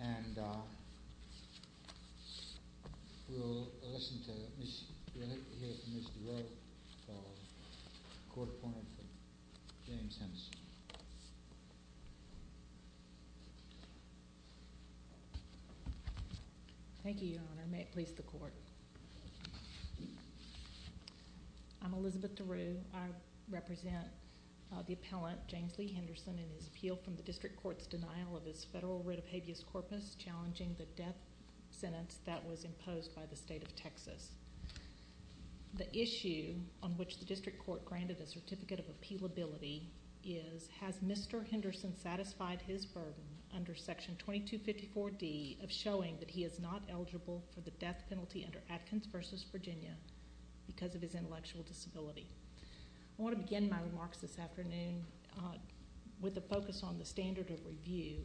And we'll listen to, we'll hear from Ms. DeRoe, Court Appointee for James Henderson. Thank you, Your Honor. May it please the Court. I'm Elizabeth DeRoe. I represent the appellant, James Lee Henderson, in his appeal from the District Court's denial of his federal writ of habeas corpus challenging the death sentence that was imposed by the State of Texas. The issue on which the District Court granted a certificate of appealability is, has Mr. Henderson satisfied his burden under Section 2254D of showing that he is not eligible for the death penalty under Atkins v. Virginia because of his intellectual disability? I want to begin my remarks this afternoon with a focus on the standard of review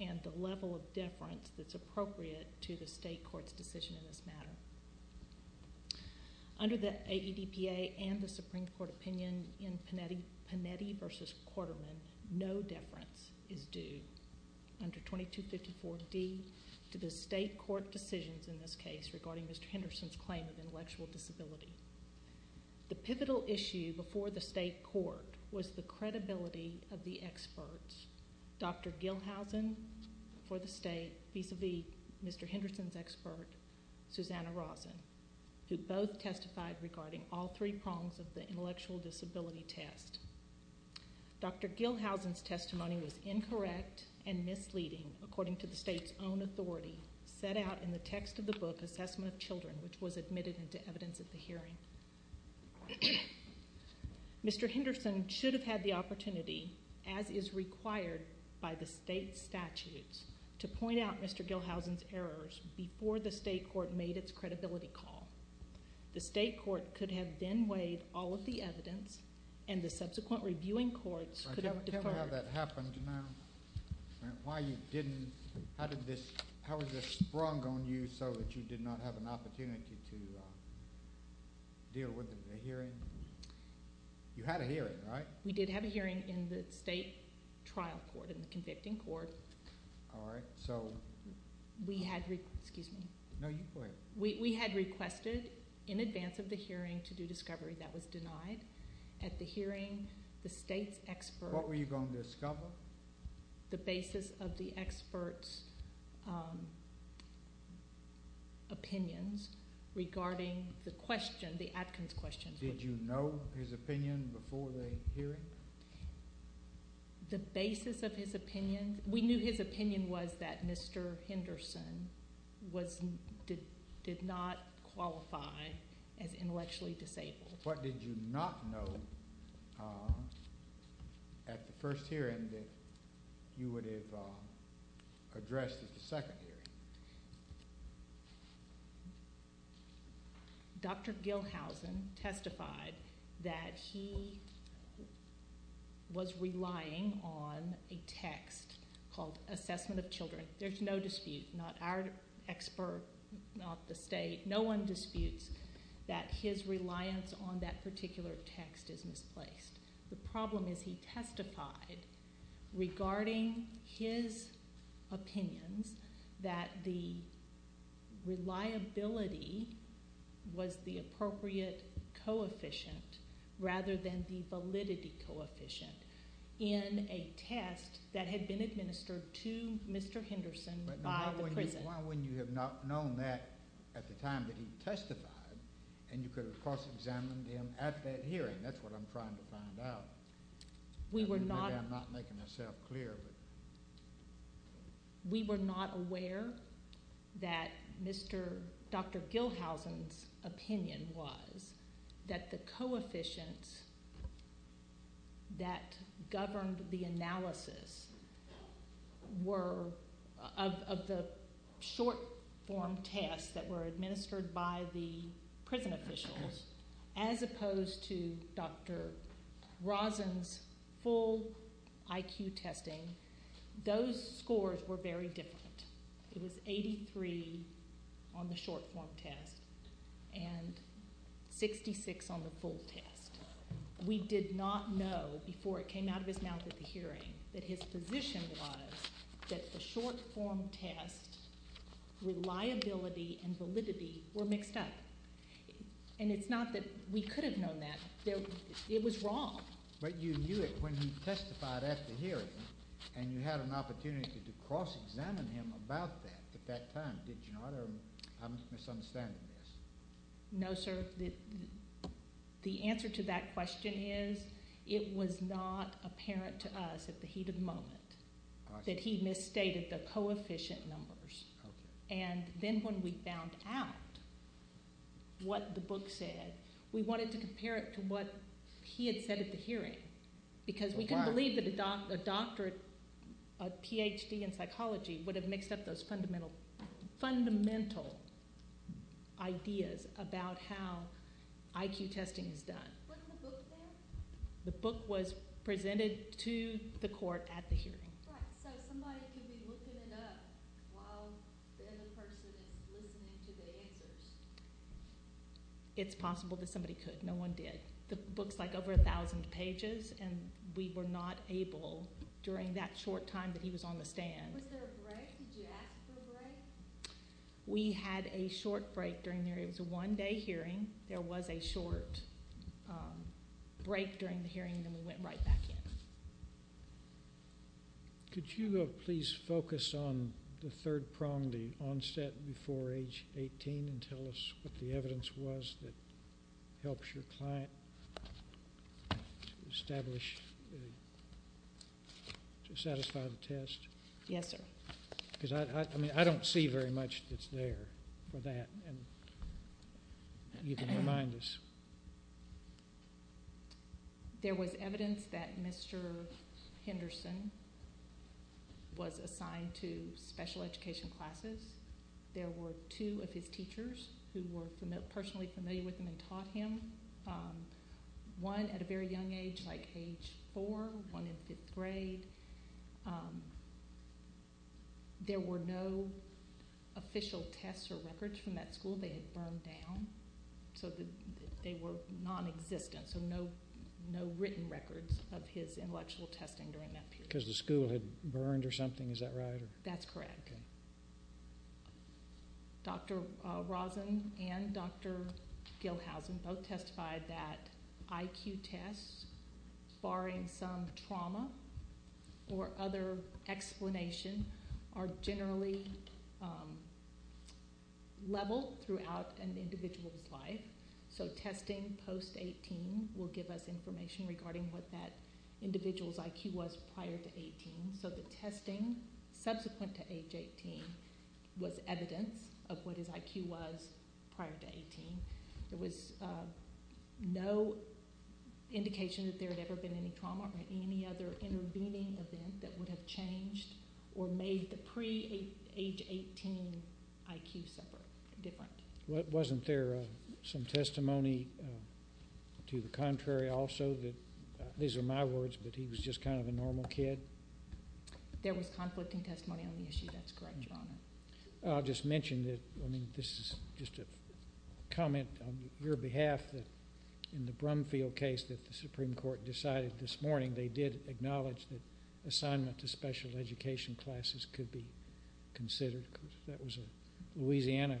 and the level of deference that's appropriate to the State Court's decision in this matter. Under the AEDPA and the Supreme Court opinion in Panetti v. Quarterman, no deference is due under 2254D to the State Court decisions in this case regarding Mr. Henderson's claim of intellectual disability. The pivotal issue before the State Court was the credibility of the experts, Dr. Gilhousen for the State, vis-a-vis Mr. Henderson's expert, Susanna Rosen, who both testified regarding all three prongs of the intellectual disability test. Dr. Gilhousen's testimony was incorrect and misleading according to the State's own authority set out in the text of the book, Assessment of Children, which was admitted into evidence at the hearing. Mr. Henderson should have had the opportunity, as is required by the State's statutes, to point out Mr. Gilhousen's errors before the State Court made its credibility call. The State Court could have then weighed all of the evidence and the subsequent reviewing courts could have deferred. Do you know how that happened, Janelle? How was this sprung on you so that you did not have an opportunity to deal with the hearing? You had a hearing, right? We did have a hearing in the State trial court, in the convicting court. All right. So? We had requested in advance of the hearing to do discovery. That was denied. At the hearing, the State's expert— What were you going to discover? The basis of the expert's opinions regarding the question, the Atkins question. Did you know his opinion before the hearing? The basis of his opinion—we knew his opinion was that Mr. Henderson did not qualify as intellectually disabled. What did you not know at the first hearing that you would have addressed at the second hearing? Dr. Gilhousen testified that he was relying on a text called Assessment of Children. There's no dispute, not our expert, not the State, no one disputes that his reliance on that particular text is misplaced. The problem is he testified regarding his opinions that the reliability was the appropriate coefficient rather than the validity coefficient. In a test that had been administered to Mr. Henderson by the prison. Why wouldn't you have not known that at the time that he testified and you could have cross-examined him at that hearing? That's what I'm trying to find out. We were not— Maybe I'm not making myself clear. We were not aware that Mr.—Dr. Gilhousen's opinion was that the coefficients that governed the analysis were— Those scores were very different. It was 83 on the short-form test and 66 on the full test. We did not know before it came out of his mouth at the hearing that his position was that the short-form test reliability and validity were mixed up. And it's not that we could have known that. It was wrong. But you knew it when he testified at the hearing and you had an opportunity to cross-examine him about that at that time, did you not? Or I'm misunderstanding this. No, sir. The answer to that question is it was not apparent to us at the heat of the moment that he misstated the coefficient numbers. And then when we found out what the book said, we wanted to compare it to what he had said at the hearing because we couldn't believe that a doctorate, a Ph.D. in psychology would have mixed up those fundamental ideas about how IQ testing is done. Wasn't the book there? The book was presented to the court at the hearing. Right, so somebody could be looking it up while the other person is listening to the answers. It's possible that somebody could. No one did. The book's like over 1,000 pages, and we were not able during that short time that he was on the stand. Was there a break? Did you ask for a break? We had a short break during the hearing. It was a one-day hearing. There was a short break during the hearing, and then we went right back in. Could you please focus on the third prong, the onset before age 18, and tell us what the evidence was that helps your client to establish, to satisfy the test? Yes, sir. Because I don't see very much that's there for that and even remind us. There was evidence that Mr. Henderson was assigned to special education classes. There were two of his teachers who were personally familiar with him and taught him, one at a very young age, like age four, one in fifth grade. There were no official tests or records from that school. They had burned down, so they were nonexistent, so no written records of his intellectual testing during that period. Because the school had burned or something, is that right? That's correct. Okay. Dr. Rosen and Dr. Gilhousen both testified that IQ tests, barring some trauma or other explanation, are generally leveled throughout an individual's life. So testing post-18 will give us information regarding what that individual's IQ was prior to 18. So the testing subsequent to age 18 was evidence of what his IQ was prior to 18. There was no indication that there had ever been any trauma or any other intervening event that would have changed or made the pre-age 18 IQ separate or different. Wasn't there some testimony to the contrary also that, these are my words, that he was just kind of a normal kid? There was conflicting testimony on the issue. That's correct, Your Honor. I'll just mention that, I mean, this is just a comment on your behalf that in the Brumfield case that the Supreme Court decided this morning, they did acknowledge that assignment to special education classes could be considered. That was a Louisiana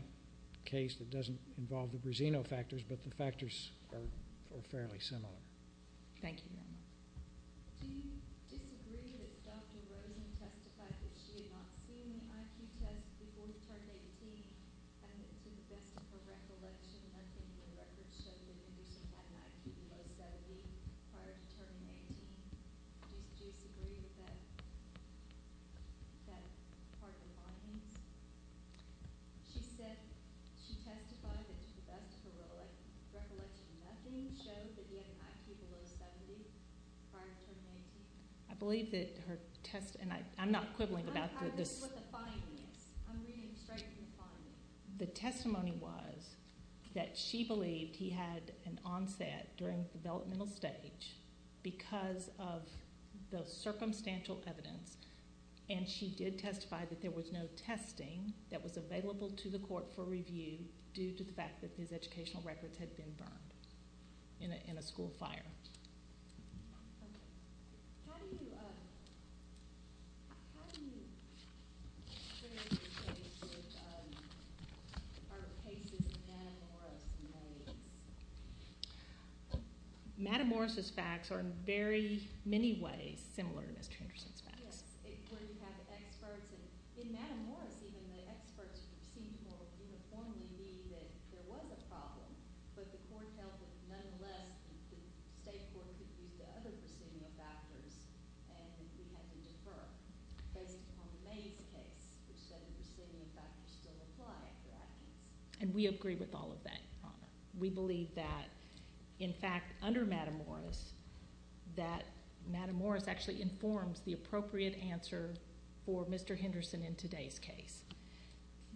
case that doesn't involve the Brasino factors, but the factors are fairly similar. Thank you, Your Honor. Do you disagree that Dr. Rosen testified that she had not seen the IQ test before he turned 18 and that to the best of her recollection, nothing in the records showed that he had an IQ below 70 prior to turning 18? Do you disagree with that part of the findings? She said she testified that to the best of her recollection, nothing showed that he had an IQ below 70 prior to turning 18. I believe that her test, and I'm not quibbling about this. I'm reading what the finding is. I'm reading straight from the finding. The testimony was that she believed he had an onset during the developmental stage because of the circumstantial evidence, and she did testify that there was no testing that was available to the court for review due to the fact that his educational records had been burned in a school fire. How do you share your case with our cases of Madam Morris and Mays? Madam Morris' facts are in very many ways similar to Mr. Henderson's facts. Yes, where you have experts, and in Madam Morris, even the experts who seemed to more uniformly agree that there was a problem, but the court held that nonetheless, the state court could use the other procedural factors, and we had to defer based upon the Mays case, which said the procedural factors still apply after our case. And we agree with all of that, Your Honor. We believe that, in fact, under Madam Morris, that Madam Morris actually informs the appropriate answer for Mr. Henderson in today's case.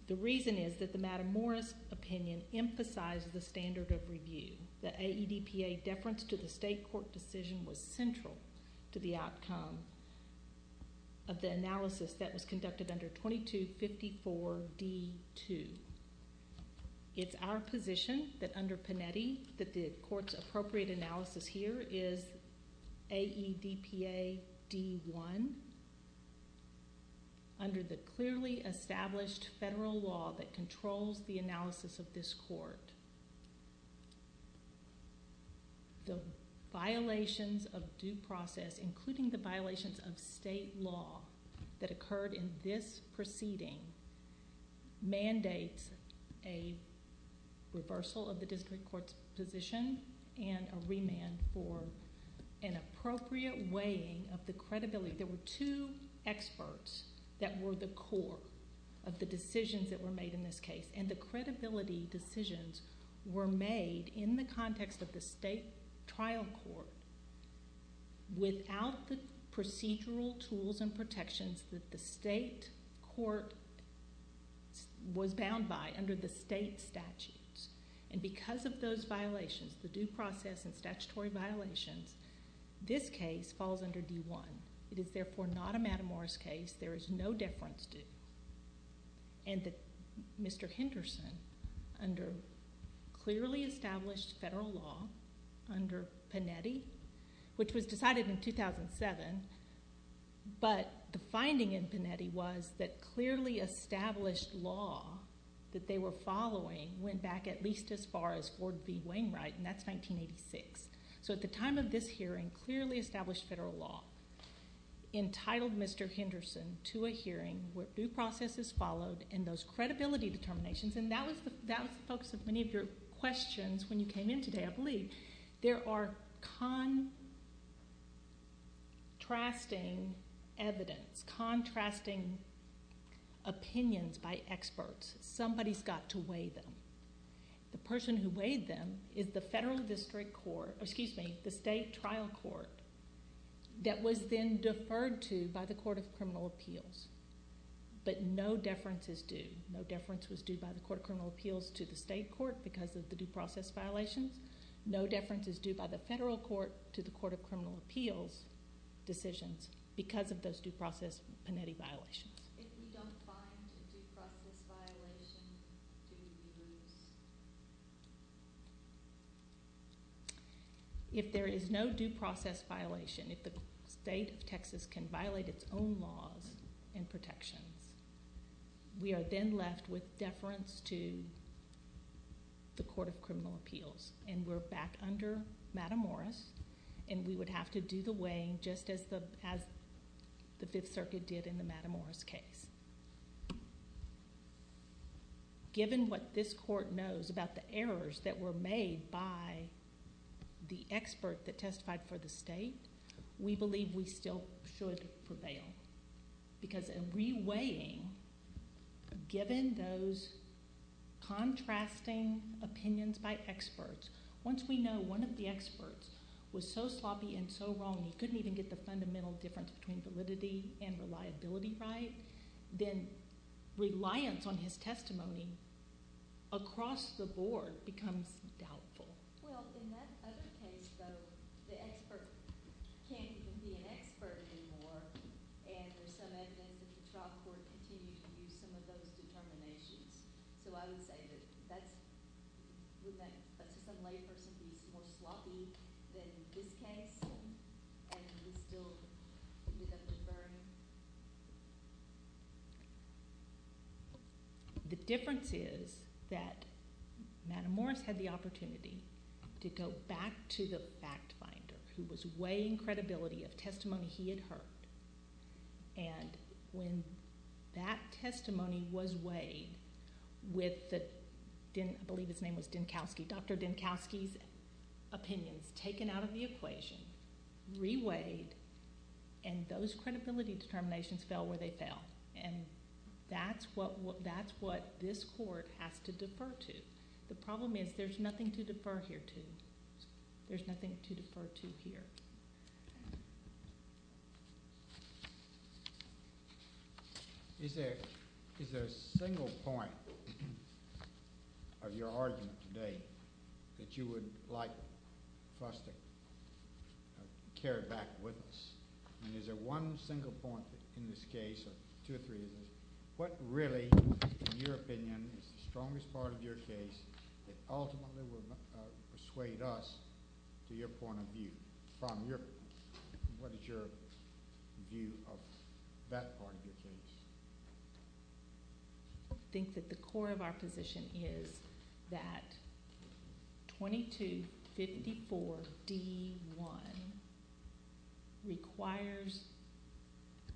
The reason is that the Madam Morris opinion emphasized the standard of review. The AEDPA deference to the state court decision was central to the outcome of the analysis that was conducted under 2254D2. It's our position that under Panetti that the court's appropriate analysis here is AEDPA D1, under the clearly established federal law that controls the analysis of this court. The violations of due process, including the violations of state law that occurred in this proceeding, mandates a reversal of the district court's position and a remand for an appropriate weighing of the credibility. There were two experts that were the core of the decisions that were made in this case, and the credibility decisions were made in the context of the state trial court without the procedural tools and protections that the state court was bound by under the state statutes. And because of those violations, the due process and statutory violations, this case falls under D1. It is therefore not a Madam Morris case. There is no deference due. And Mr. Henderson, under clearly established federal law under Panetti, which was decided in 2007, but the finding in Panetti was that clearly established law that they were following went back at least as far as Ford v. Wainwright, and that's 1986. So at the time of this hearing, clearly established federal law entitled Mr. Henderson to a hearing where due process is followed and those credibility determinations, and that was the focus of many of your questions when you came in today, I believe. There are contrasting evidence, contrasting opinions by experts. Somebody's got to weigh them. The person who weighed them is the federal district court or, excuse me, the state trial court that was then deferred to by the Court of Criminal Appeals, but no deference is due. No deference was due by the Court of Criminal Appeals to the state court because of the due process violations. No deference is due by the federal court to the Court of Criminal Appeals decisions because of those due process Panetti violations. If we don't find a due process violation, do we lose? If there is no due process violation, if the state of Texas can violate its own laws and protections, we are then left with deference to the Court of Criminal Appeals, and we're back under Matamoros, and we would have to do the weighing just as the Fifth Circuit did in the Matamoros case. Given what this court knows about the errors that were made by the expert that testified for the state, we believe we still should prevail because in re-weighing, given those contrasting opinions by experts, once we know one of the experts was so sloppy and so wrong, he couldn't even get the fundamental difference between validity and reliability right, then reliance on his testimony across the board becomes doubtful. Well, in that other case, though, the expert can't even be an expert anymore, and there's some evidence that the trial court continued to use some of those determinations. So I would say that that's just a layperson who's more sloppy than this case, and he still ended up deferring. The difference is that Matamoros had the opportunity to go back to the fact finder, who was weighing credibility of testimony he had heard, and when that testimony was weighed with the, I believe his name was Dinkowski, Dr. Dinkowski's opinions taken out of the equation, re-weighed, and those credibility determinations fell where they fell, and that's what this court has to defer to. The problem is there's nothing to defer here to. There's nothing to defer to here. Is there a single point of your argument today that you would like for us to carry back with us, and is there one single point in this case, or two or three, what really, in your opinion, is the strongest part of your case that ultimately will persuade us, to your point of view, from your, what is your view of that part of your case? I think that the core of our position is that 2254D1 requires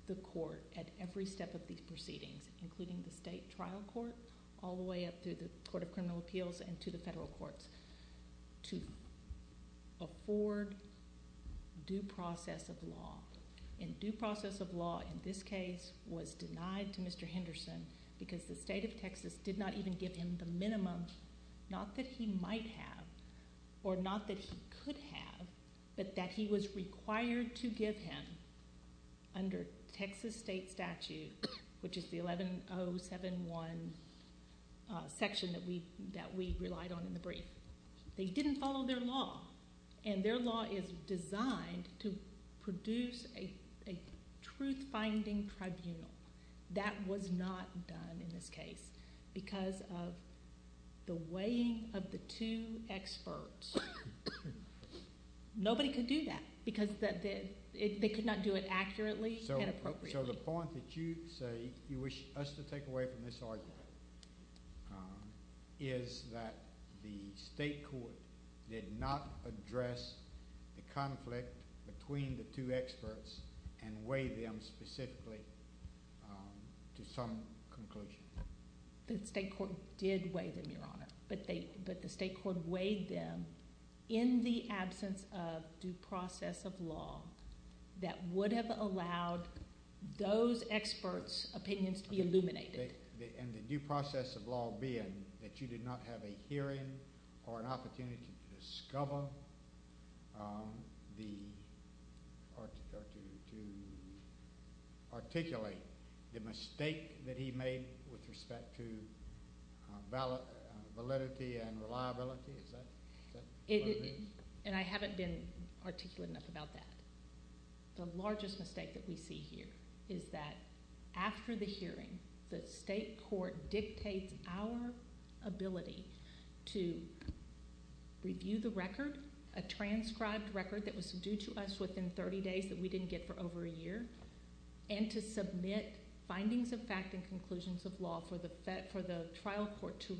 the court, at every step of these proceedings, including the state trial court, all the way up to the court of criminal appeals and to the federal courts, to afford due process of law. And due process of law in this case was denied to Mr. Henderson because the state of Texas did not even give him the minimum, not that he might have or not that he could have, but that he was required to give him under Texas state statute, which is the 11071 section that we relied on in the brief. They didn't follow their law. And their law is designed to produce a truth-finding tribunal. That was not done in this case because of the weighing of the two experts. Nobody could do that because they could not do it accurately and appropriately. So the point that you say you wish us to take away from this argument is that the state court did not address the conflict between the two experts and weigh them specifically to some conclusion. The state court did weigh them, Your Honor. But the state court weighed them in the absence of due process of law that would have allowed those experts' opinions to be illuminated. And the due process of law being that you did not have a hearing or an opportunity to discover the— or to articulate the mistake that he made with respect to validity and reliability? And I haven't been articulate enough about that. The largest mistake that we see here is that after the hearing, the state court dictates our ability to review the record, a transcribed record that was due to us within 30 days that we didn't get for over a year, and to submit findings of fact and conclusions of law for the trial court to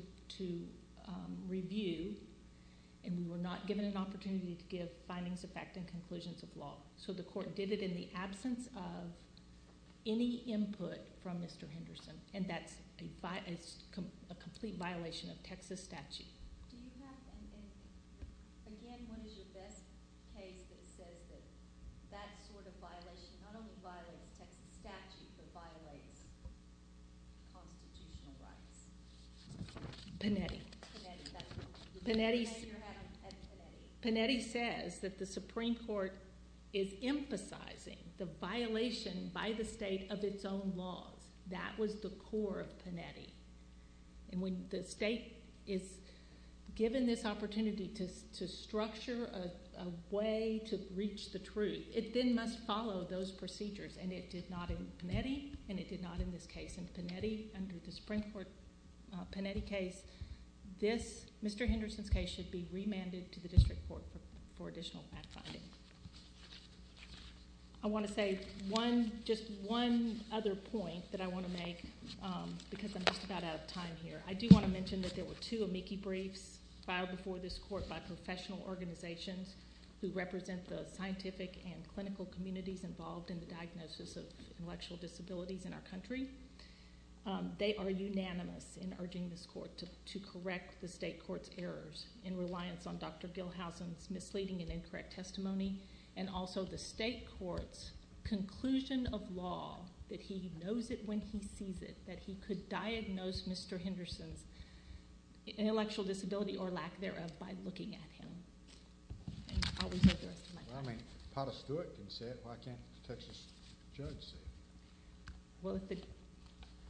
review, and we were not given an opportunity to give findings of fact and conclusions of law. So the court did it in the absence of any input from Mr. Henderson, and that's a complete violation of Texas statute. Do you have an—again, what is your best case that says that that sort of violation not only violates Texas statute but violates constitutional rights? Panetti. Panetti says that the Supreme Court is emphasizing the violation by the state of its own laws. That was the core of Panetti. And when the state is given this opportunity to structure a way to reach the truth, it then must follow those procedures, and it did not in Panetti, and it did not in this case. In Panetti, under the Supreme Court Panetti case, Mr. Henderson's case should be remanded to the district court for additional fact finding. I want to say just one other point that I want to make because I'm just about out of time here. I do want to mention that there were two amici briefs filed before this court by professional organizations who represent the scientific and clinical communities involved in the diagnosis of intellectual disabilities in our country. They are unanimous in urging this court to correct the state court's errors in reliance on Dr. Gilhousen's misleading and incorrect testimony and also the state court's conclusion of law that he knows it when he sees it, that he could diagnose Mr. Henderson's intellectual disability or lack thereof by looking at him. I'll reserve the rest of my time. Well, I mean, Potter Stewart can say it. Why can't the Texas judge say it? Well,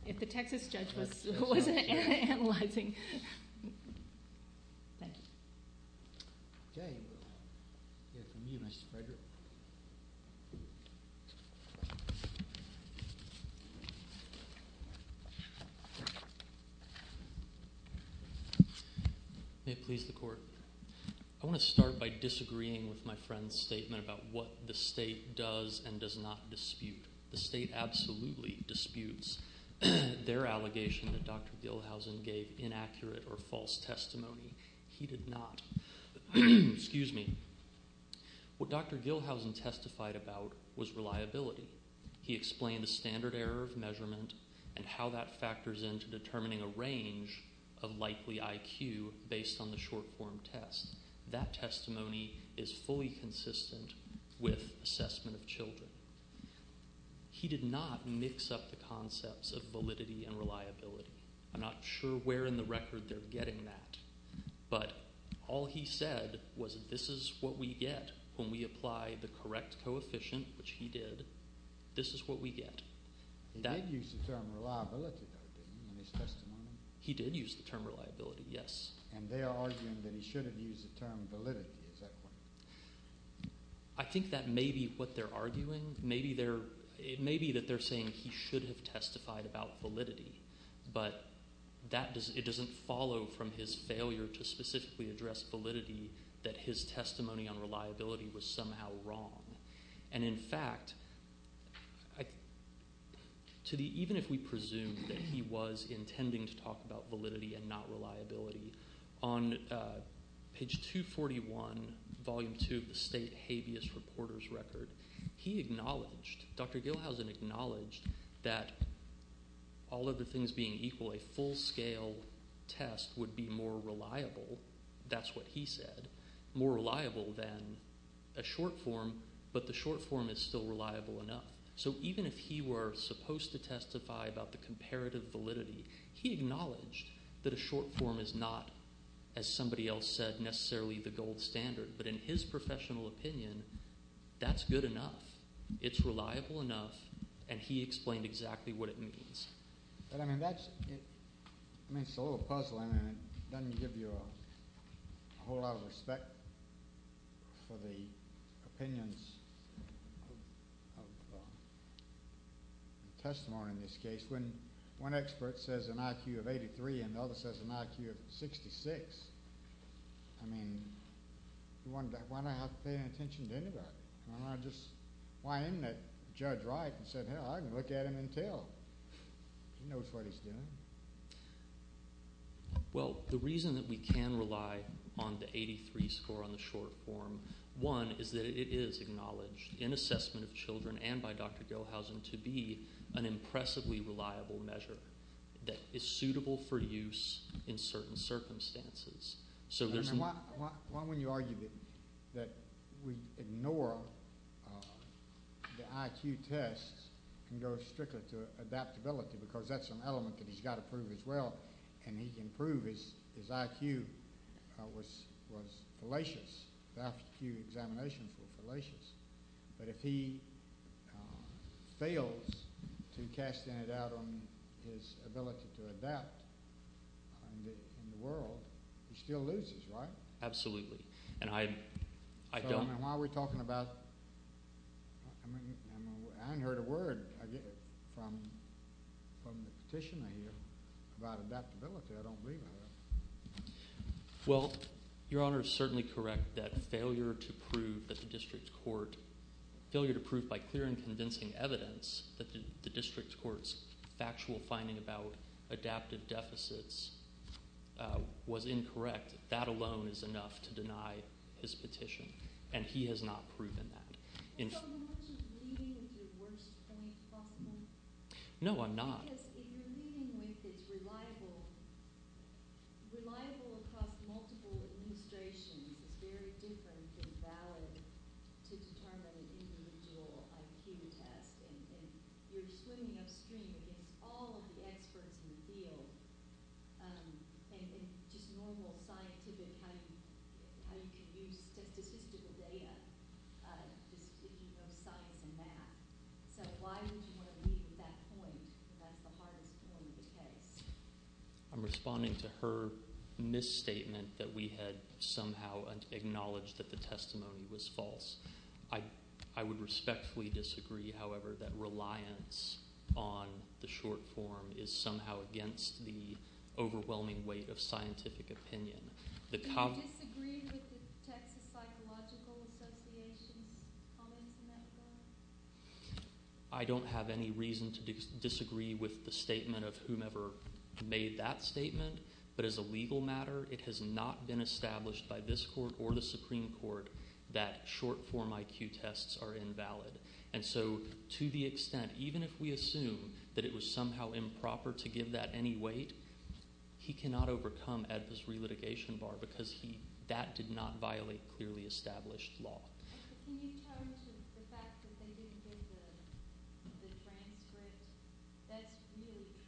if the Texas judge wasn't analyzing. Thank you. Okay, we'll hear from you, Mr. Frederick. May it please the court. I want to start by disagreeing with my friend's statement about what the state does and does not dispute. The state absolutely disputes their allegation that Dr. Gilhousen gave inaccurate or false testimony. He did not. Excuse me. What Dr. Gilhousen testified about was reliability. He explained a standard error of measurement and how that factors into determining a range of likely IQ based on the short-form test. That testimony is fully consistent with assessment of children. He did not mix up the concepts of validity and reliability. I'm not sure where in the record they're getting that. But all he said was this is what we get when we apply the correct coefficient, which he did, this is what we get. He did use the term reliability, though, didn't he, in his testimony? He did use the term reliability, yes. And they are arguing that he should have used the term validity at that point. I think that may be what they're arguing. It may be that they're saying he should have testified about validity, but it doesn't follow from his failure to specifically address validity that his testimony on reliability was somehow wrong. And, in fact, even if we presume that he was intending to talk about validity and not reliability, on page 241, volume 2 of the state habeas reporter's record, he acknowledged, Dr. Gilhousen acknowledged that all other things being equal, a full-scale test would be more reliable, that's what he said, more reliable than a short-form, but the short-form is still reliable enough. So even if he were supposed to testify about the comparative validity, he acknowledged that a short-form is not, as somebody else said, necessarily the gold standard. But in his professional opinion, that's good enough, it's reliable enough, and he explained exactly what it means. But, I mean, that's a little puzzling. It doesn't give you a whole lot of respect for the opinions of the testimony in this case. When one expert says an IQ of 83 and the other says an IQ of 66, I mean, why do I have to pay any attention to anybody? Why didn't that judge write and say, hey, I can look at him and tell? He knows what he's doing. Well, the reason that we can rely on the 83 score on the short-form, one, is that it is acknowledged in assessment of children and by Dr. Gilhousen to be an impressively reliable measure that is suitable for use in certain circumstances. Why wouldn't you argue that we ignore the IQ tests and go strictly to adaptability because that's an element that he's got to prove as well, and he can prove his IQ was fallacious, his IQ examinations were fallacious. But if he fails to cast any doubt on his ability to adapt in the world, he still loses, right? Absolutely. So, I mean, why are we talking about – I haven't heard a word from the petitioner here about adaptability. I don't believe I have. Well, Your Honor is certainly correct that failure to prove that the district court – failure to prove by clear and convincing evidence that the district court's factual finding about adaptive deficits was incorrect, that alone is enough to deny his petition, and he has not proven that. So you're not just leading with your worst point, possibly? No, I'm not. Because if you're leading with it's reliable across multiple illustrations, it's very different than valid to determine an individual IQ test, and you're swimming upstream against all of the experts in the field and just normal scientific – how you can use statistical data just if you know science and math. So why would you want to lead with that point if that's the hardest point of the case? I'm responding to her misstatement that we had somehow acknowledged that the testimony was false. I would respectfully disagree, however, that reliance on the short form is somehow against the overwhelming weight of scientific opinion. Do you disagree with the Texas Psychological Association's comments in that court? I don't have any reason to disagree with the statement of whomever made that statement, but as a legal matter, it has not been established by this court or the Supreme Court that short form IQ tests are invalid. And so to the extent, even if we assume that it was somehow improper to give that any weight, he cannot overcome AEDPA's relitigation bar because that did not violate clearly established law. Can you talk to the fact that they didn't give the transcript? That's really troubling.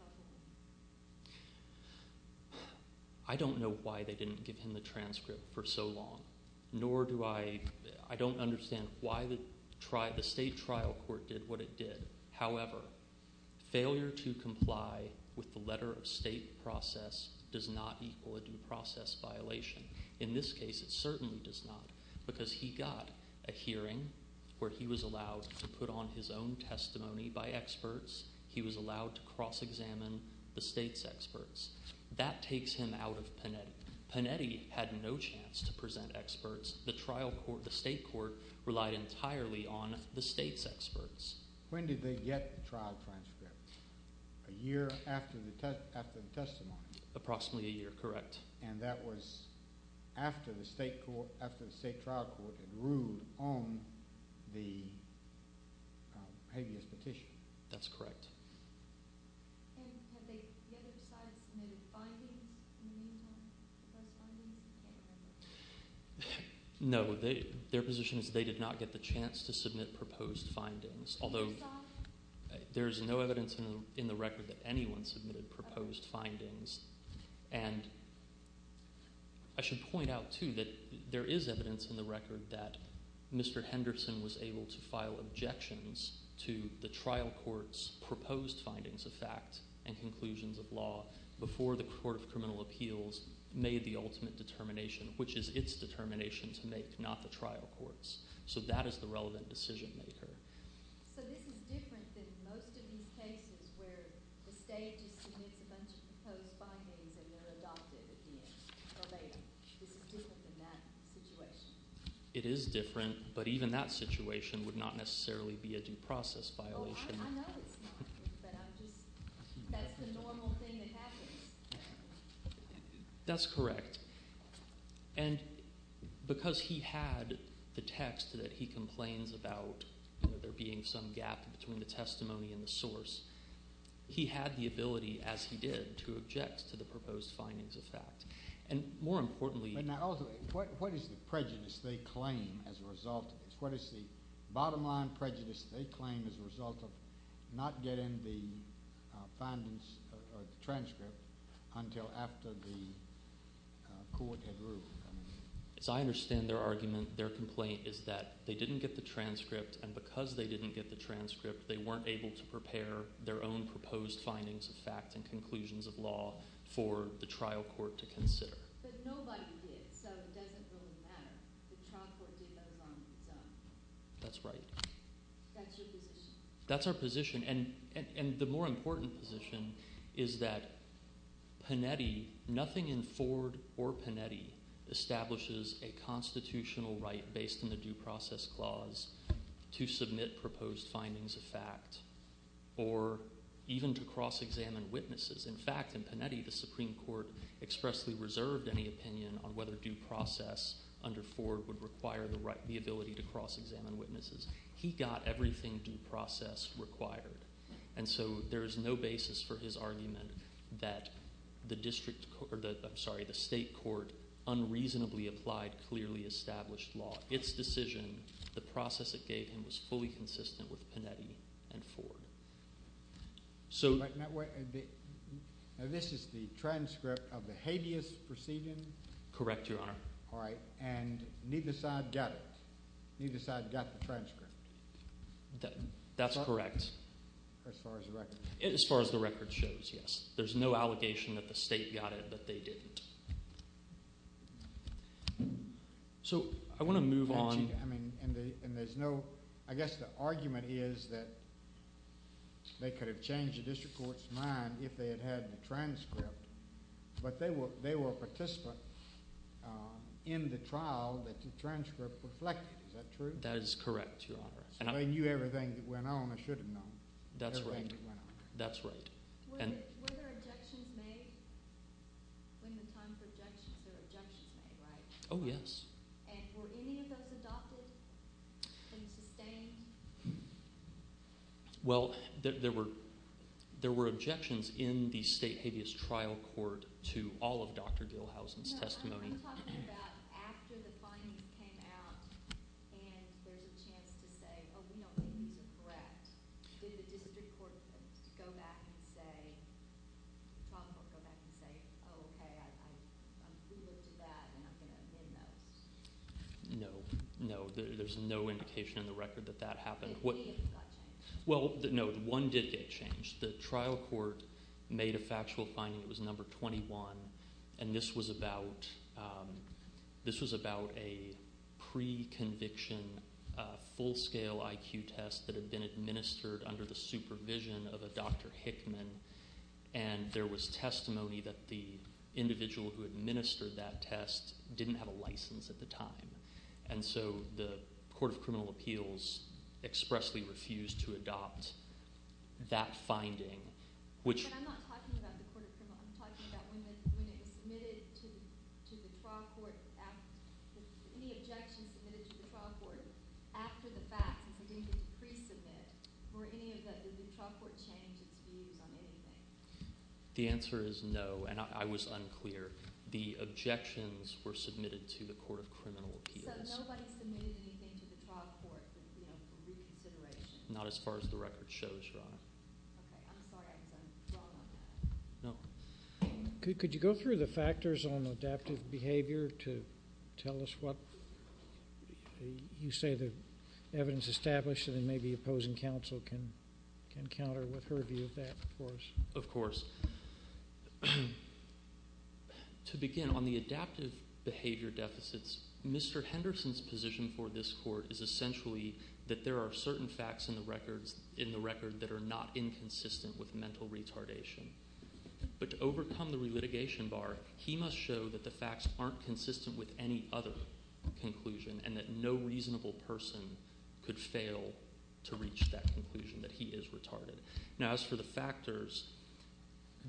I don't know why they didn't give him the transcript for so long, nor do I – I don't understand why the state trial court did what it did. However, failure to comply with the letter of state process does not equal a due process violation. In this case, it certainly does not because he got a hearing where he was allowed to put on his own testimony by experts. He was allowed to cross-examine the state's experts. That takes him out of Panetti. Panetti had no chance to present experts. The trial court, the state court relied entirely on the state's experts. When did they get the trial transcript? A year after the testimony? Approximately a year, correct. And that was after the state trial court had ruled on the habeas petition? That's correct. And had the other side submitted findings in the meantime? No. Their position is they did not get the chance to submit proposed findings, although there is no evidence in the record that anyone submitted proposed findings. And I should point out too that there is evidence in the record that Mr. Henderson was able to file objections to the trial court's proposed findings of fact and conclusions of law before the Court of Criminal Appeals made the ultimate determination, which is its determination to make, not the trial court's. So that is the relevant decision maker. So this is different than most of these cases where the state just submits a bunch of proposed findings and they're adopted at the end or later. This is different than that situation? It is different, but even that situation would not necessarily be a due process violation. I know it's not, but that's the normal thing that happens. That's correct. And because he had the text that he complains about, there being some gap between the testimony and the source, he had the ability, as he did, to object to the proposed findings of fact. What is the bottom line prejudice they claim as a result of not getting the transcript until after the court had ruled? As I understand their argument, their complaint is that they didn't get the transcript, and because they didn't get the transcript, they weren't able to prepare their own proposed findings of fact and conclusions of law for the trial court to consider. But nobody did, so it doesn't really matter. The trial court did those on its own. That's right. That's your position. That's our position, and the more important position is that Panetti, nothing in Ford or Panetti establishes a constitutional right based on the due process clause to submit proposed findings of fact or even to cross-examine witnesses. In fact, in Panetti, the Supreme Court expressly reserved any opinion on whether due process under Ford would require the ability to cross-examine witnesses. He got everything due process required, and so there is no basis for his argument that the state court unreasonably applied clearly established law. Its decision, the process it gave him, was fully consistent with Panetti and Ford. So this is the transcript of the habeas procedure? Correct, Your Honor. All right, and neither side got it? Neither side got the transcript? That's correct. As far as the record? As far as the record shows, yes. There's no allegation that the state got it, but they didn't. So I want to move on. I guess the argument is that they could have changed the district court's mind if they had had the transcript, but they were a participant in the trial that the transcript reflected. Is that true? That is correct, Your Honor. So they knew everything that went on or should have known. That's right. Were there objections made? When the time for objections, there were objections made, right? Oh, yes. And were any of those adopted and sustained? Well, there were objections in the state habeas trial court to all of Dr. Gilhousen's testimony. I'm talking about after the findings came out and there's a chance to say, oh, we don't think these are correct. Did the district court go back and say, the trial court go back and say, oh, okay, we looked at that and I'm going to amend those? No. No, there's no indication in the record that that happened. Did any of them get changed? Well, no, one did get changed. The trial court made a factual finding. It was number 21. And this was about a pre-conviction full-scale IQ test that had been administered under the supervision of a Dr. Hickman. And there was testimony that the individual who administered that test didn't have a license at the time. And so the court of criminal appeals expressly refused to adopt that finding. But I'm not talking about the court of criminal appeals. I'm talking about when it was submitted to the trial court, any objections submitted to the trial court after the fact, since it didn't get pre-submitted. Did the trial court change its views on anything? The answer is no. And I was unclear. The objections were submitted to the court of criminal appeals. So nobody submitted anything to the trial court for reconsideration? Not as far as the record shows, Your Honor. Okay. I'm sorry. I guess I'm wrong on that. No. Could you go through the factors on adaptive behavior to tell us what you say the evidence established and maybe opposing counsel can counter with her view of that for us? Of course. To begin, on the adaptive behavior deficits, Mr. Henderson's position for this court is essentially that there are certain facts in the record that are not inconsistent with mental retardation. But to overcome the relitigation bar, he must show that the facts aren't consistent with any other conclusion and that no reasonable person could fail to reach that conclusion, that he is retarded. Now, as for the factors,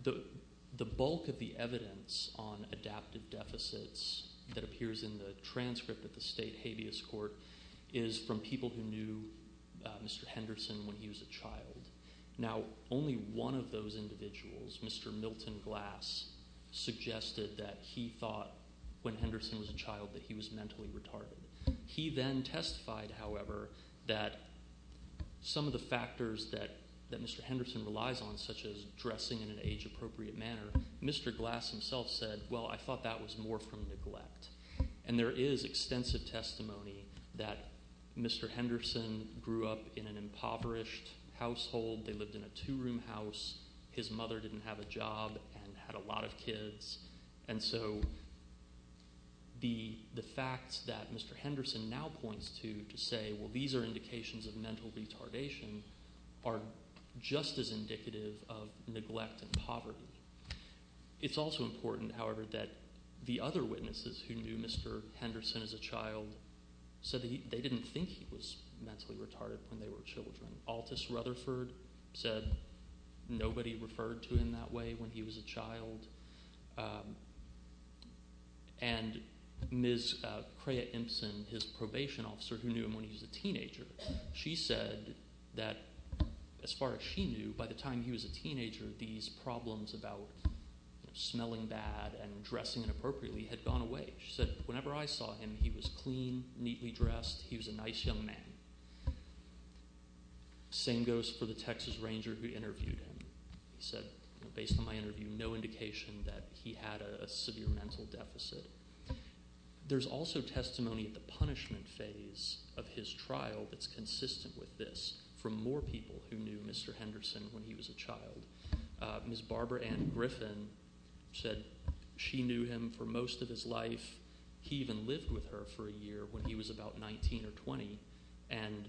the bulk of the evidence on adaptive deficits that appears in the transcript of the state habeas court is from people who knew Mr. Henderson when he was a child. Now, only one of those individuals, Mr. Milton Glass, suggested that he thought when Henderson was a child that he was mentally retarded. He then testified, however, that some of the factors that Mr. Henderson relies on, such as dressing in an age-appropriate manner, Mr. Glass himself said, well, I thought that was more from neglect. And there is extensive testimony that Mr. Henderson grew up in an impoverished household. They lived in a two-room house. His mother didn't have a job and had a lot of kids. And so the facts that Mr. Henderson now points to to say, well, these are indications of mental retardation are just as indicative of neglect and poverty. It's also important, however, that the other witnesses who knew Mr. Henderson as a child said that they didn't think he was mentally retarded when they were children. Altice Rutherford said nobody referred to him that way when he was a child. And Ms. Craya Imsen, his probation officer who knew him when he was a teenager, she said that as far as she knew, by the time he was a teenager, these problems about smelling bad and dressing inappropriately had gone away. She said, whenever I saw him, he was clean, neatly dressed. He was a nice young man. Same goes for the Texas Ranger who interviewed him. He said, based on my interview, no indication that he had a severe mental deficit. There's also testimony at the punishment phase of his trial that's consistent with this from more people who knew Mr. Henderson when he was a child. Ms. Barbara Ann Griffin said she knew him for most of his life. He even lived with her for a year when he was about 19 or 20. And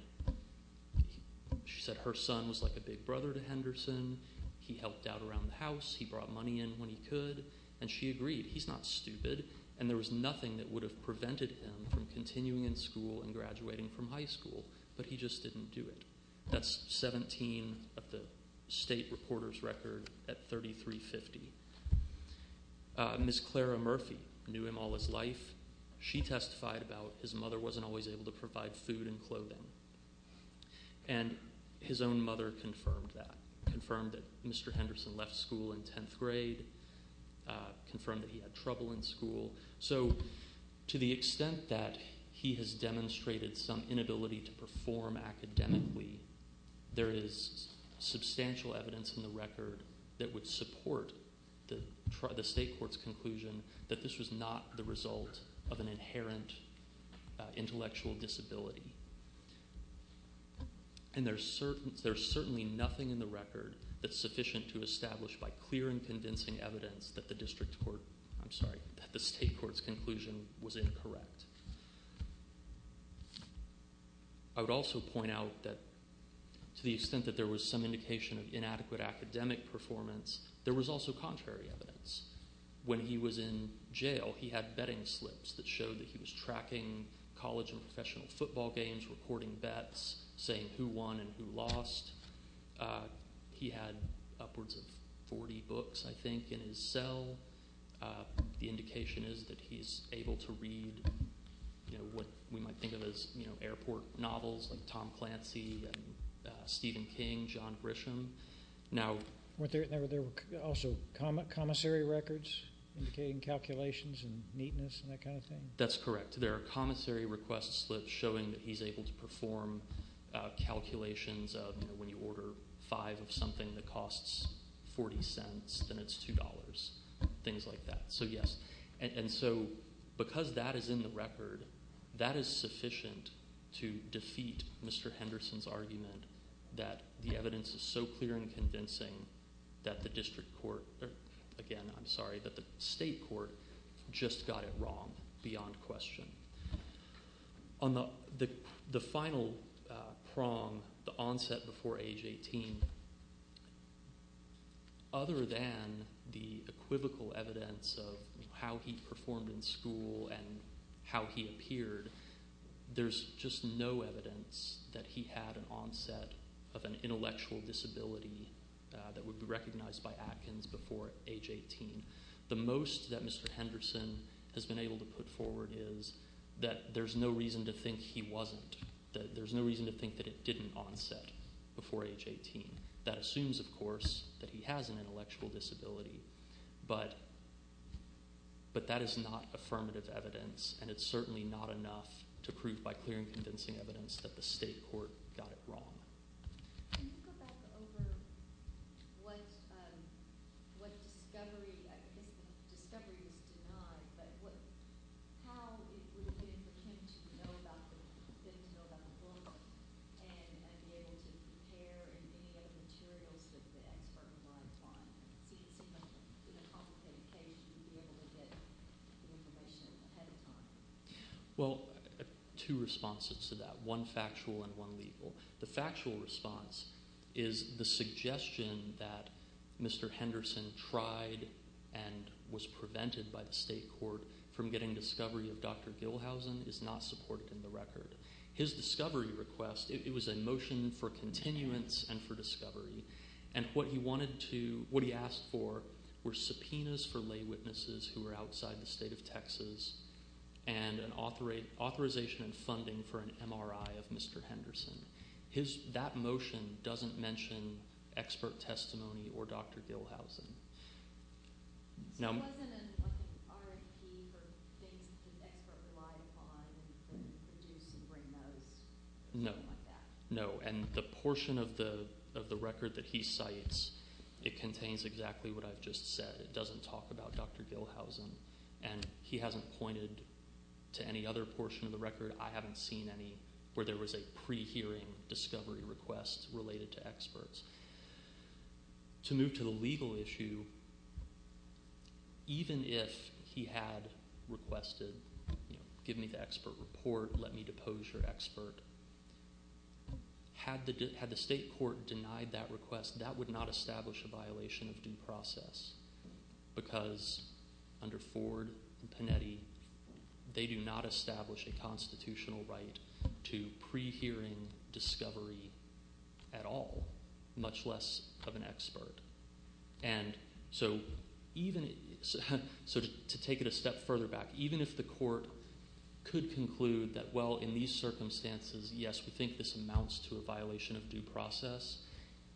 she said her son was like a big brother to Henderson. He helped out around the house. He brought money in when he could. And she agreed. He's not stupid. And there was nothing that would have prevented him from continuing in school and graduating from high school. But he just didn't do it. That's 17 of the state reporter's record at 3350. Ms. Clara Murphy knew him all his life. She testified about his mother wasn't always able to provide food and clothing. And his own mother confirmed that. Confirmed that Mr. Henderson left school in 10th grade. Confirmed that he had trouble in school. So to the extent that he has demonstrated some inability to perform academically, there is substantial evidence in the record that would support the state court's conclusion that this was not the result of an inherent intellectual disability. And there's certainly nothing in the record that's sufficient to establish by clear and convincing evidence that the state court's conclusion was incorrect. I would also point out that to the extent that there was some indication of inadequate academic performance, there was also contrary evidence. When he was in jail, he had betting slips that showed that he was tracking college and professional football games, recording bets, saying who won and who lost. He had upwards of 40 books, I think, in his cell. The indication is that he's able to read what we might think of as airport novels like Tom Clancy and Stephen King, John Grisham. Were there also commissary records indicating calculations and neatness and that kind of thing? That's correct. There are commissary request slips showing that he's able to perform calculations of when you order five of something that costs 40 cents, then it's $2, things like that. Because that is in the record, that is sufficient to defeat Mr. Henderson's argument that the evidence is so clear and convincing that the state court just got it wrong beyond question. On the final prong, the onset before age 18, other than the equivocal evidence of how he performed in school and how he appeared, there's just no evidence that he had an onset of an intellectual disability that would be recognized by Atkins before age 18. The most that Mr. Henderson has been able to put forward is that there's no reason to think he wasn't. There's no reason to think that it didn't onset before age 18. That assumes, of course, that he has an intellectual disability, but that is not affirmative evidence and it's certainly not enough to prove by clear and convincing evidence that the state court got it wrong. Can you go back over what discovery, I guess discovery is denied, but how it would have been for him to know about the book and be able to compare any of the materials that the expert relies on? It seems like in a complicated case you'd be able to get the information ahead of time. Well, two responses to that, one factual and one legal. The factual response is the suggestion that Mr. Henderson tried and was prevented by the state court from getting discovery of Dr. Gilhousen is not supported in the record. His discovery request, it was a motion for continuance and for discovery. What he asked for were subpoenas for lay witnesses who were outside the state of Texas and an authorization and funding for an MRI of Mr. Henderson. That motion doesn't mention expert testimony or Dr. Gilhousen. So it wasn't an RFP for things that the expert relied upon to produce and bring those? No, and the portion of the record that he cites, it contains exactly what I've just said. It doesn't talk about Dr. Gilhousen, and he hasn't pointed to any other portion of the record. I haven't seen any where there was a pre-hearing discovery request related to experts. To move to the legal issue, even if he had requested give me the expert report, let me depose your expert, had the state court denied that request, that would not establish a violation of due process. Because under Ford and Panetti, they do not establish a constitutional right to pre-hearing discovery at all, much less of an expert. And so to take it a step further back, even if the court could conclude that, well, in these circumstances, yes, we think this amounts to a violation of due process.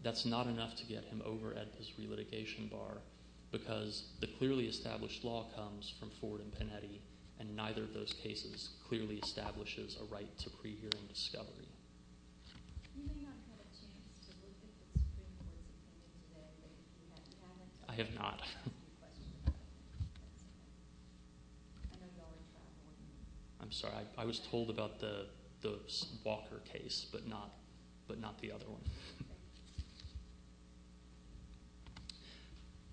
That's not enough to get him over at his re-litigation bar, because the clearly established law comes from Ford and Panetti. And neither of those cases clearly establishes a right to pre-hearing discovery. You may not have had a chance to look at the Supreme Court's opinion today, but you haven't? I have not. I'm sorry, I was told about the Walker case, but not the other one.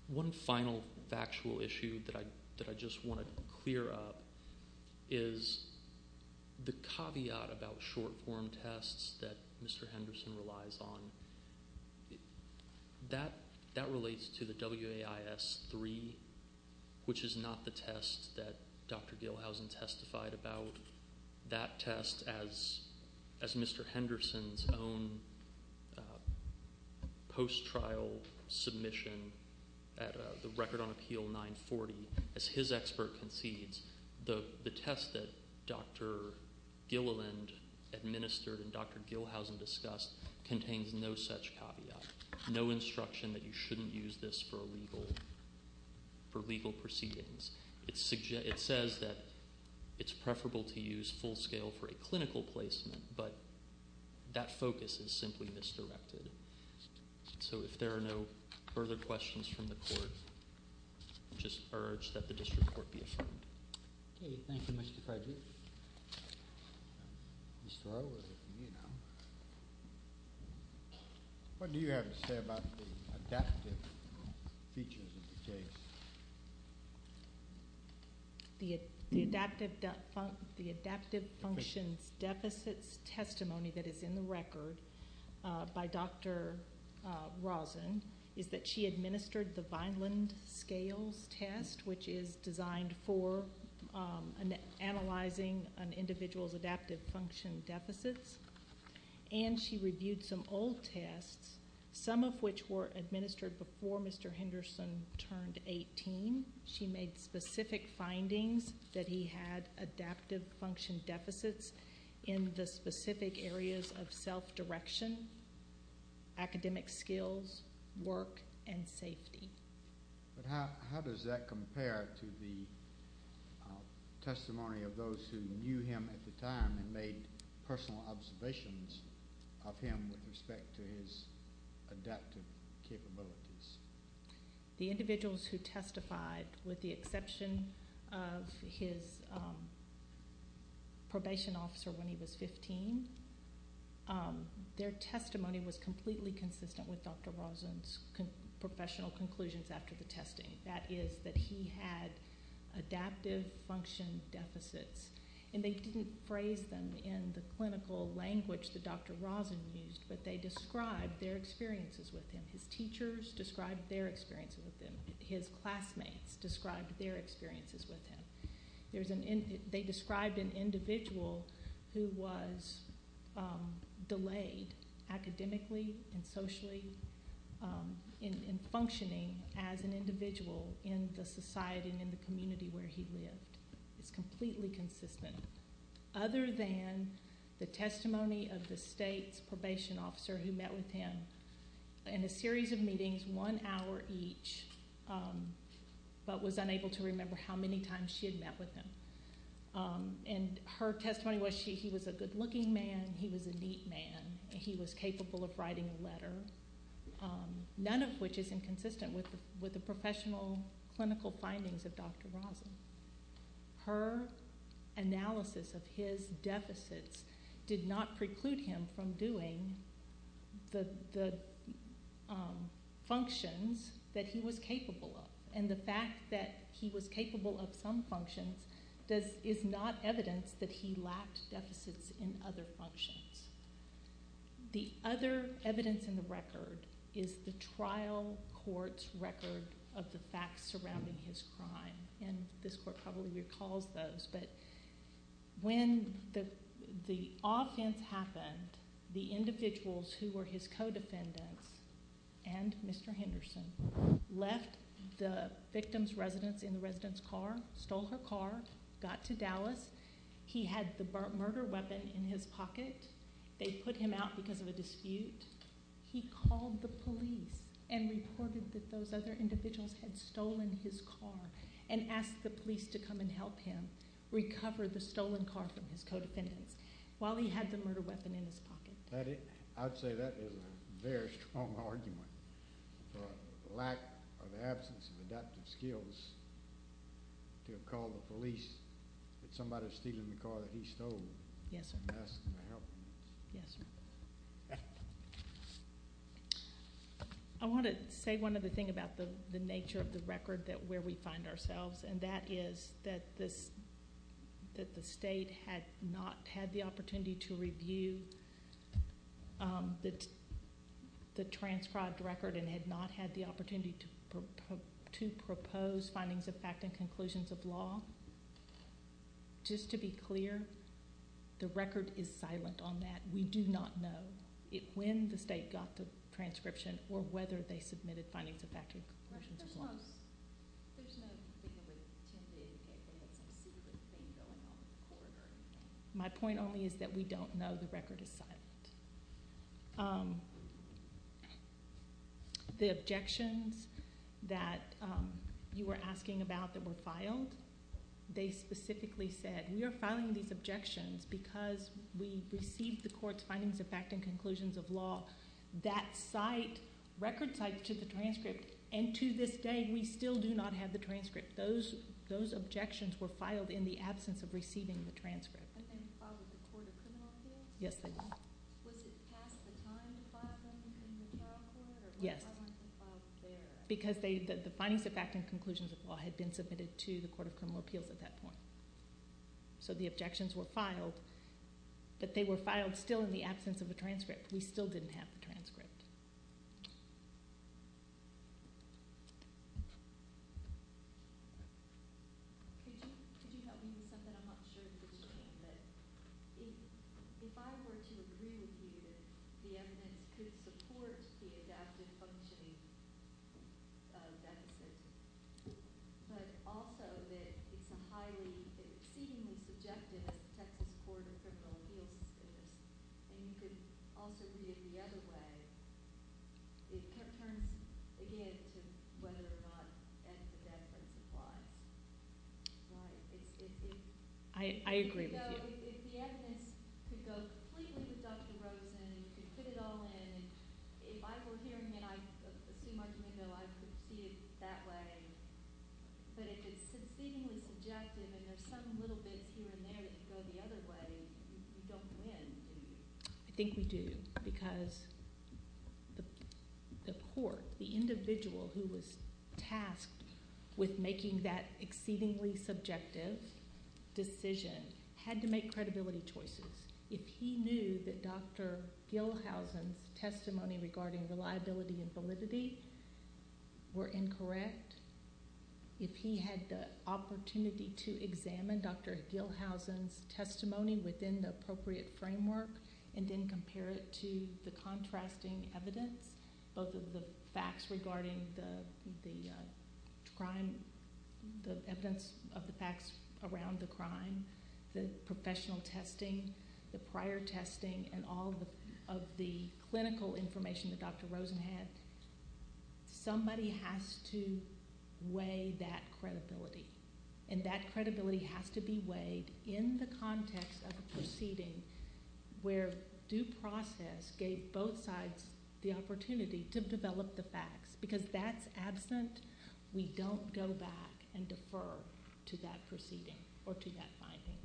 One final factual issue that I just want to clear up is the caveat about short-form tests that Mr. Henderson relies on. That relates to the WAIS-3, which is not the test that Dr. Gilhousen testified about. That test, as Mr. Henderson's own post-trial submission at the Record on Appeal 940, as his expert concedes, the test that Dr. Gilliland administered and Dr. Gilhousen discussed contains no such caveat, no instruction that you shouldn't use this for legal proceedings. It says that it's preferable to use full-scale for a clinical placement, but that focus is simply misdirected. So if there are no further questions from the Court, I just urge that the District Court be affirmed. Okay, thank you, Mr. Frederick. What do you have to say about the adaptive features of the case? The adaptive functions deficits testimony that is in the record by Dr. Rosen is that she administered the Vineland scales test, which is designed for analyzing an individual's adaptive function deficits, and she reviewed some old tests, some of which were administered before Mr. Henderson turned 18. She made specific findings that he had adaptive function deficits in the specific areas of self-direction, academic skills, work, and safety. How does that compare to the testimony of those who knew him at the time and made personal observations of him with respect to his adaptive capabilities? The individuals who testified, with the exception of his probation officer when he was 15, their testimony was completely consistent with Dr. Rosen's professional conclusions after the testing. That is that he had adaptive function deficits, and they didn't phrase them in the clinical language that Dr. Rosen used, but they described their experiences with him. His teachers described their experiences with him. His classmates described their experiences with him. They described an individual who was delayed academically and socially in functioning as an individual in the society and in the community where he lived. It's completely consistent, other than the testimony of the state's probation officer who met with him in a series of meetings, one hour each, but was unable to remember how many times she had met with him. Her testimony was he was a good-looking man, he was a neat man, and he was capable of writing a letter, none of which is inconsistent with the professional clinical findings of Dr. Rosen. Her analysis of his deficits did not preclude him from doing the functions that he was capable of, and the fact that he was capable of some functions is not evidence that he lacked deficits in other functions. The other evidence in the record is the trial court's record of the facts surrounding his crime, and this court probably recalls those, but when the offense happened, the individuals who were his co-defendants and Mr. Henderson left the victim's residence in the resident's car, stole her car, got to Dallas, he had the murder weapon in his pocket, they put him out because of a dispute, he called the police and reported that those other individuals had stolen his car and asked the police to come and help him recover the stolen car from his co-defendants while he had the murder weapon in his pocket. I'd say that is a very strong argument for a lack of absence of adaptive skills to have called the police that somebody was stealing the car that he stole and asked them to help him. Yes, sir. I want to say one other thing about the nature of the record where we find ourselves, and that is that the state had not had the opportunity to review the transcribed record and had not had the opportunity to propose findings of fact and conclusions of law. Just to be clear, the record is silent on that. We do not know when the state got the transcription or whether they submitted findings of fact and conclusions of law. My point only is that we don't know the record is silent. The objections that you were asking about that were filed, they specifically said, we are filing these objections because we received the court's findings of fact and conclusions of law. That site, record site to the transcript, and to this day we still do not have the transcript. Those objections were filed in the absence of receiving the transcript. And they were filed with the Court of Criminal Appeals? Yes, they were. Was it past the time to file them in the trial court? Yes. Or why weren't they filed there? Because the findings of fact and conclusions of law had been submitted to the Court of Criminal Appeals at that point. We still didn't have the transcript. It turns, again, to whether or not evidence of evidence applies. I agree with you. If the evidence could go completely with Dr. Rosen, you could put it all in. If I were here and I assume Archimando, I could see it that way. But if it's succeedingly subjective and there's some little bits here and there that go the other way, you don't win, do you? I think we do because the court, the individual who was tasked with making that exceedingly subjective decision, had to make credibility choices. If he knew that Dr. Gilhousen's testimony regarding reliability and validity were incorrect, if he had the opportunity to examine Dr. Gilhousen's testimony within the appropriate framework and then compare it to the contrasting evidence, both of the facts regarding the crime, the evidence of the facts around the crime, the professional testing, the prior testing, and all of the clinical information that Dr. Rosen had, somebody has to weigh that credibility. And that credibility has to be weighed in the context of a proceeding where due process gave both sides the opportunity to develop the facts. Because that's absent. We don't go back and defer to that proceeding or to that finding.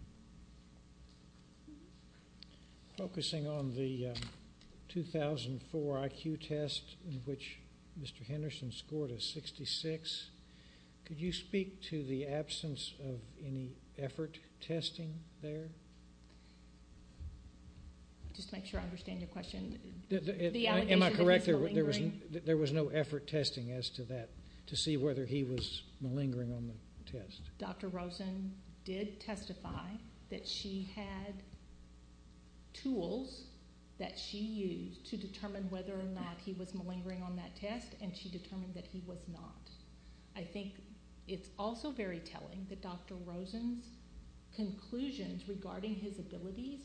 Focusing on the 2004 IQ test in which Mr. Henderson scored a 66, could you speak to the absence of any effort testing there? Just to make sure I understand your question. Am I correct? There was no effort testing as to that to see whether he was malingering on the test. Dr. Rosen did testify that she had tools that she used to determine whether or not he was malingering on that test, and she determined that he was not. I think it's also very telling that Dr. Rosen's conclusions regarding his abilities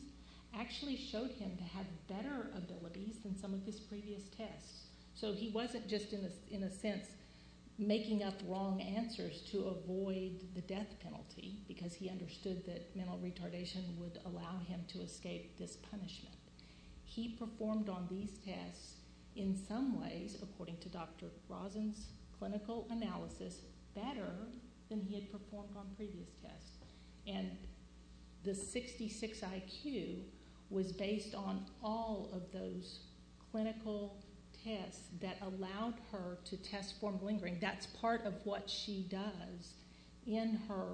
actually showed him to have better abilities than some of his previous tests. So he wasn't just in a sense making up wrong answers to avoid the death penalty, because he understood that mental retardation would allow him to escape this punishment. He performed on these tests in some ways, according to Dr. Rosen's clinical analysis, better than he had performed on previous tests. The 66 IQ was based on all of those clinical tests that allowed her to test for malingering. That's part of what she does in her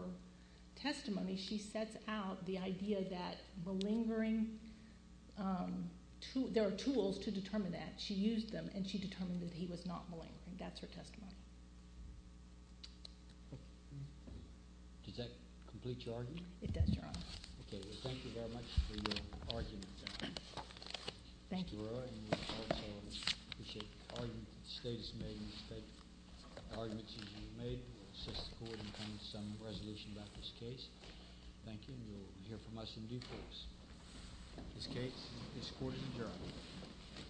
testimony. She sets out the idea that there are tools to determine that. She used them, and she determined that he was not malingering. That's her testimony. Does that complete your argument? It does, Your Honor. Okay. Well, thank you very much for your argument. Thank you. I appreciate the arguments that the state has made and the arguments that you've made. We'll assist the court in coming to some resolution about this case. Thank you, and you'll hear from us in due course. This case is recorded and adjourned.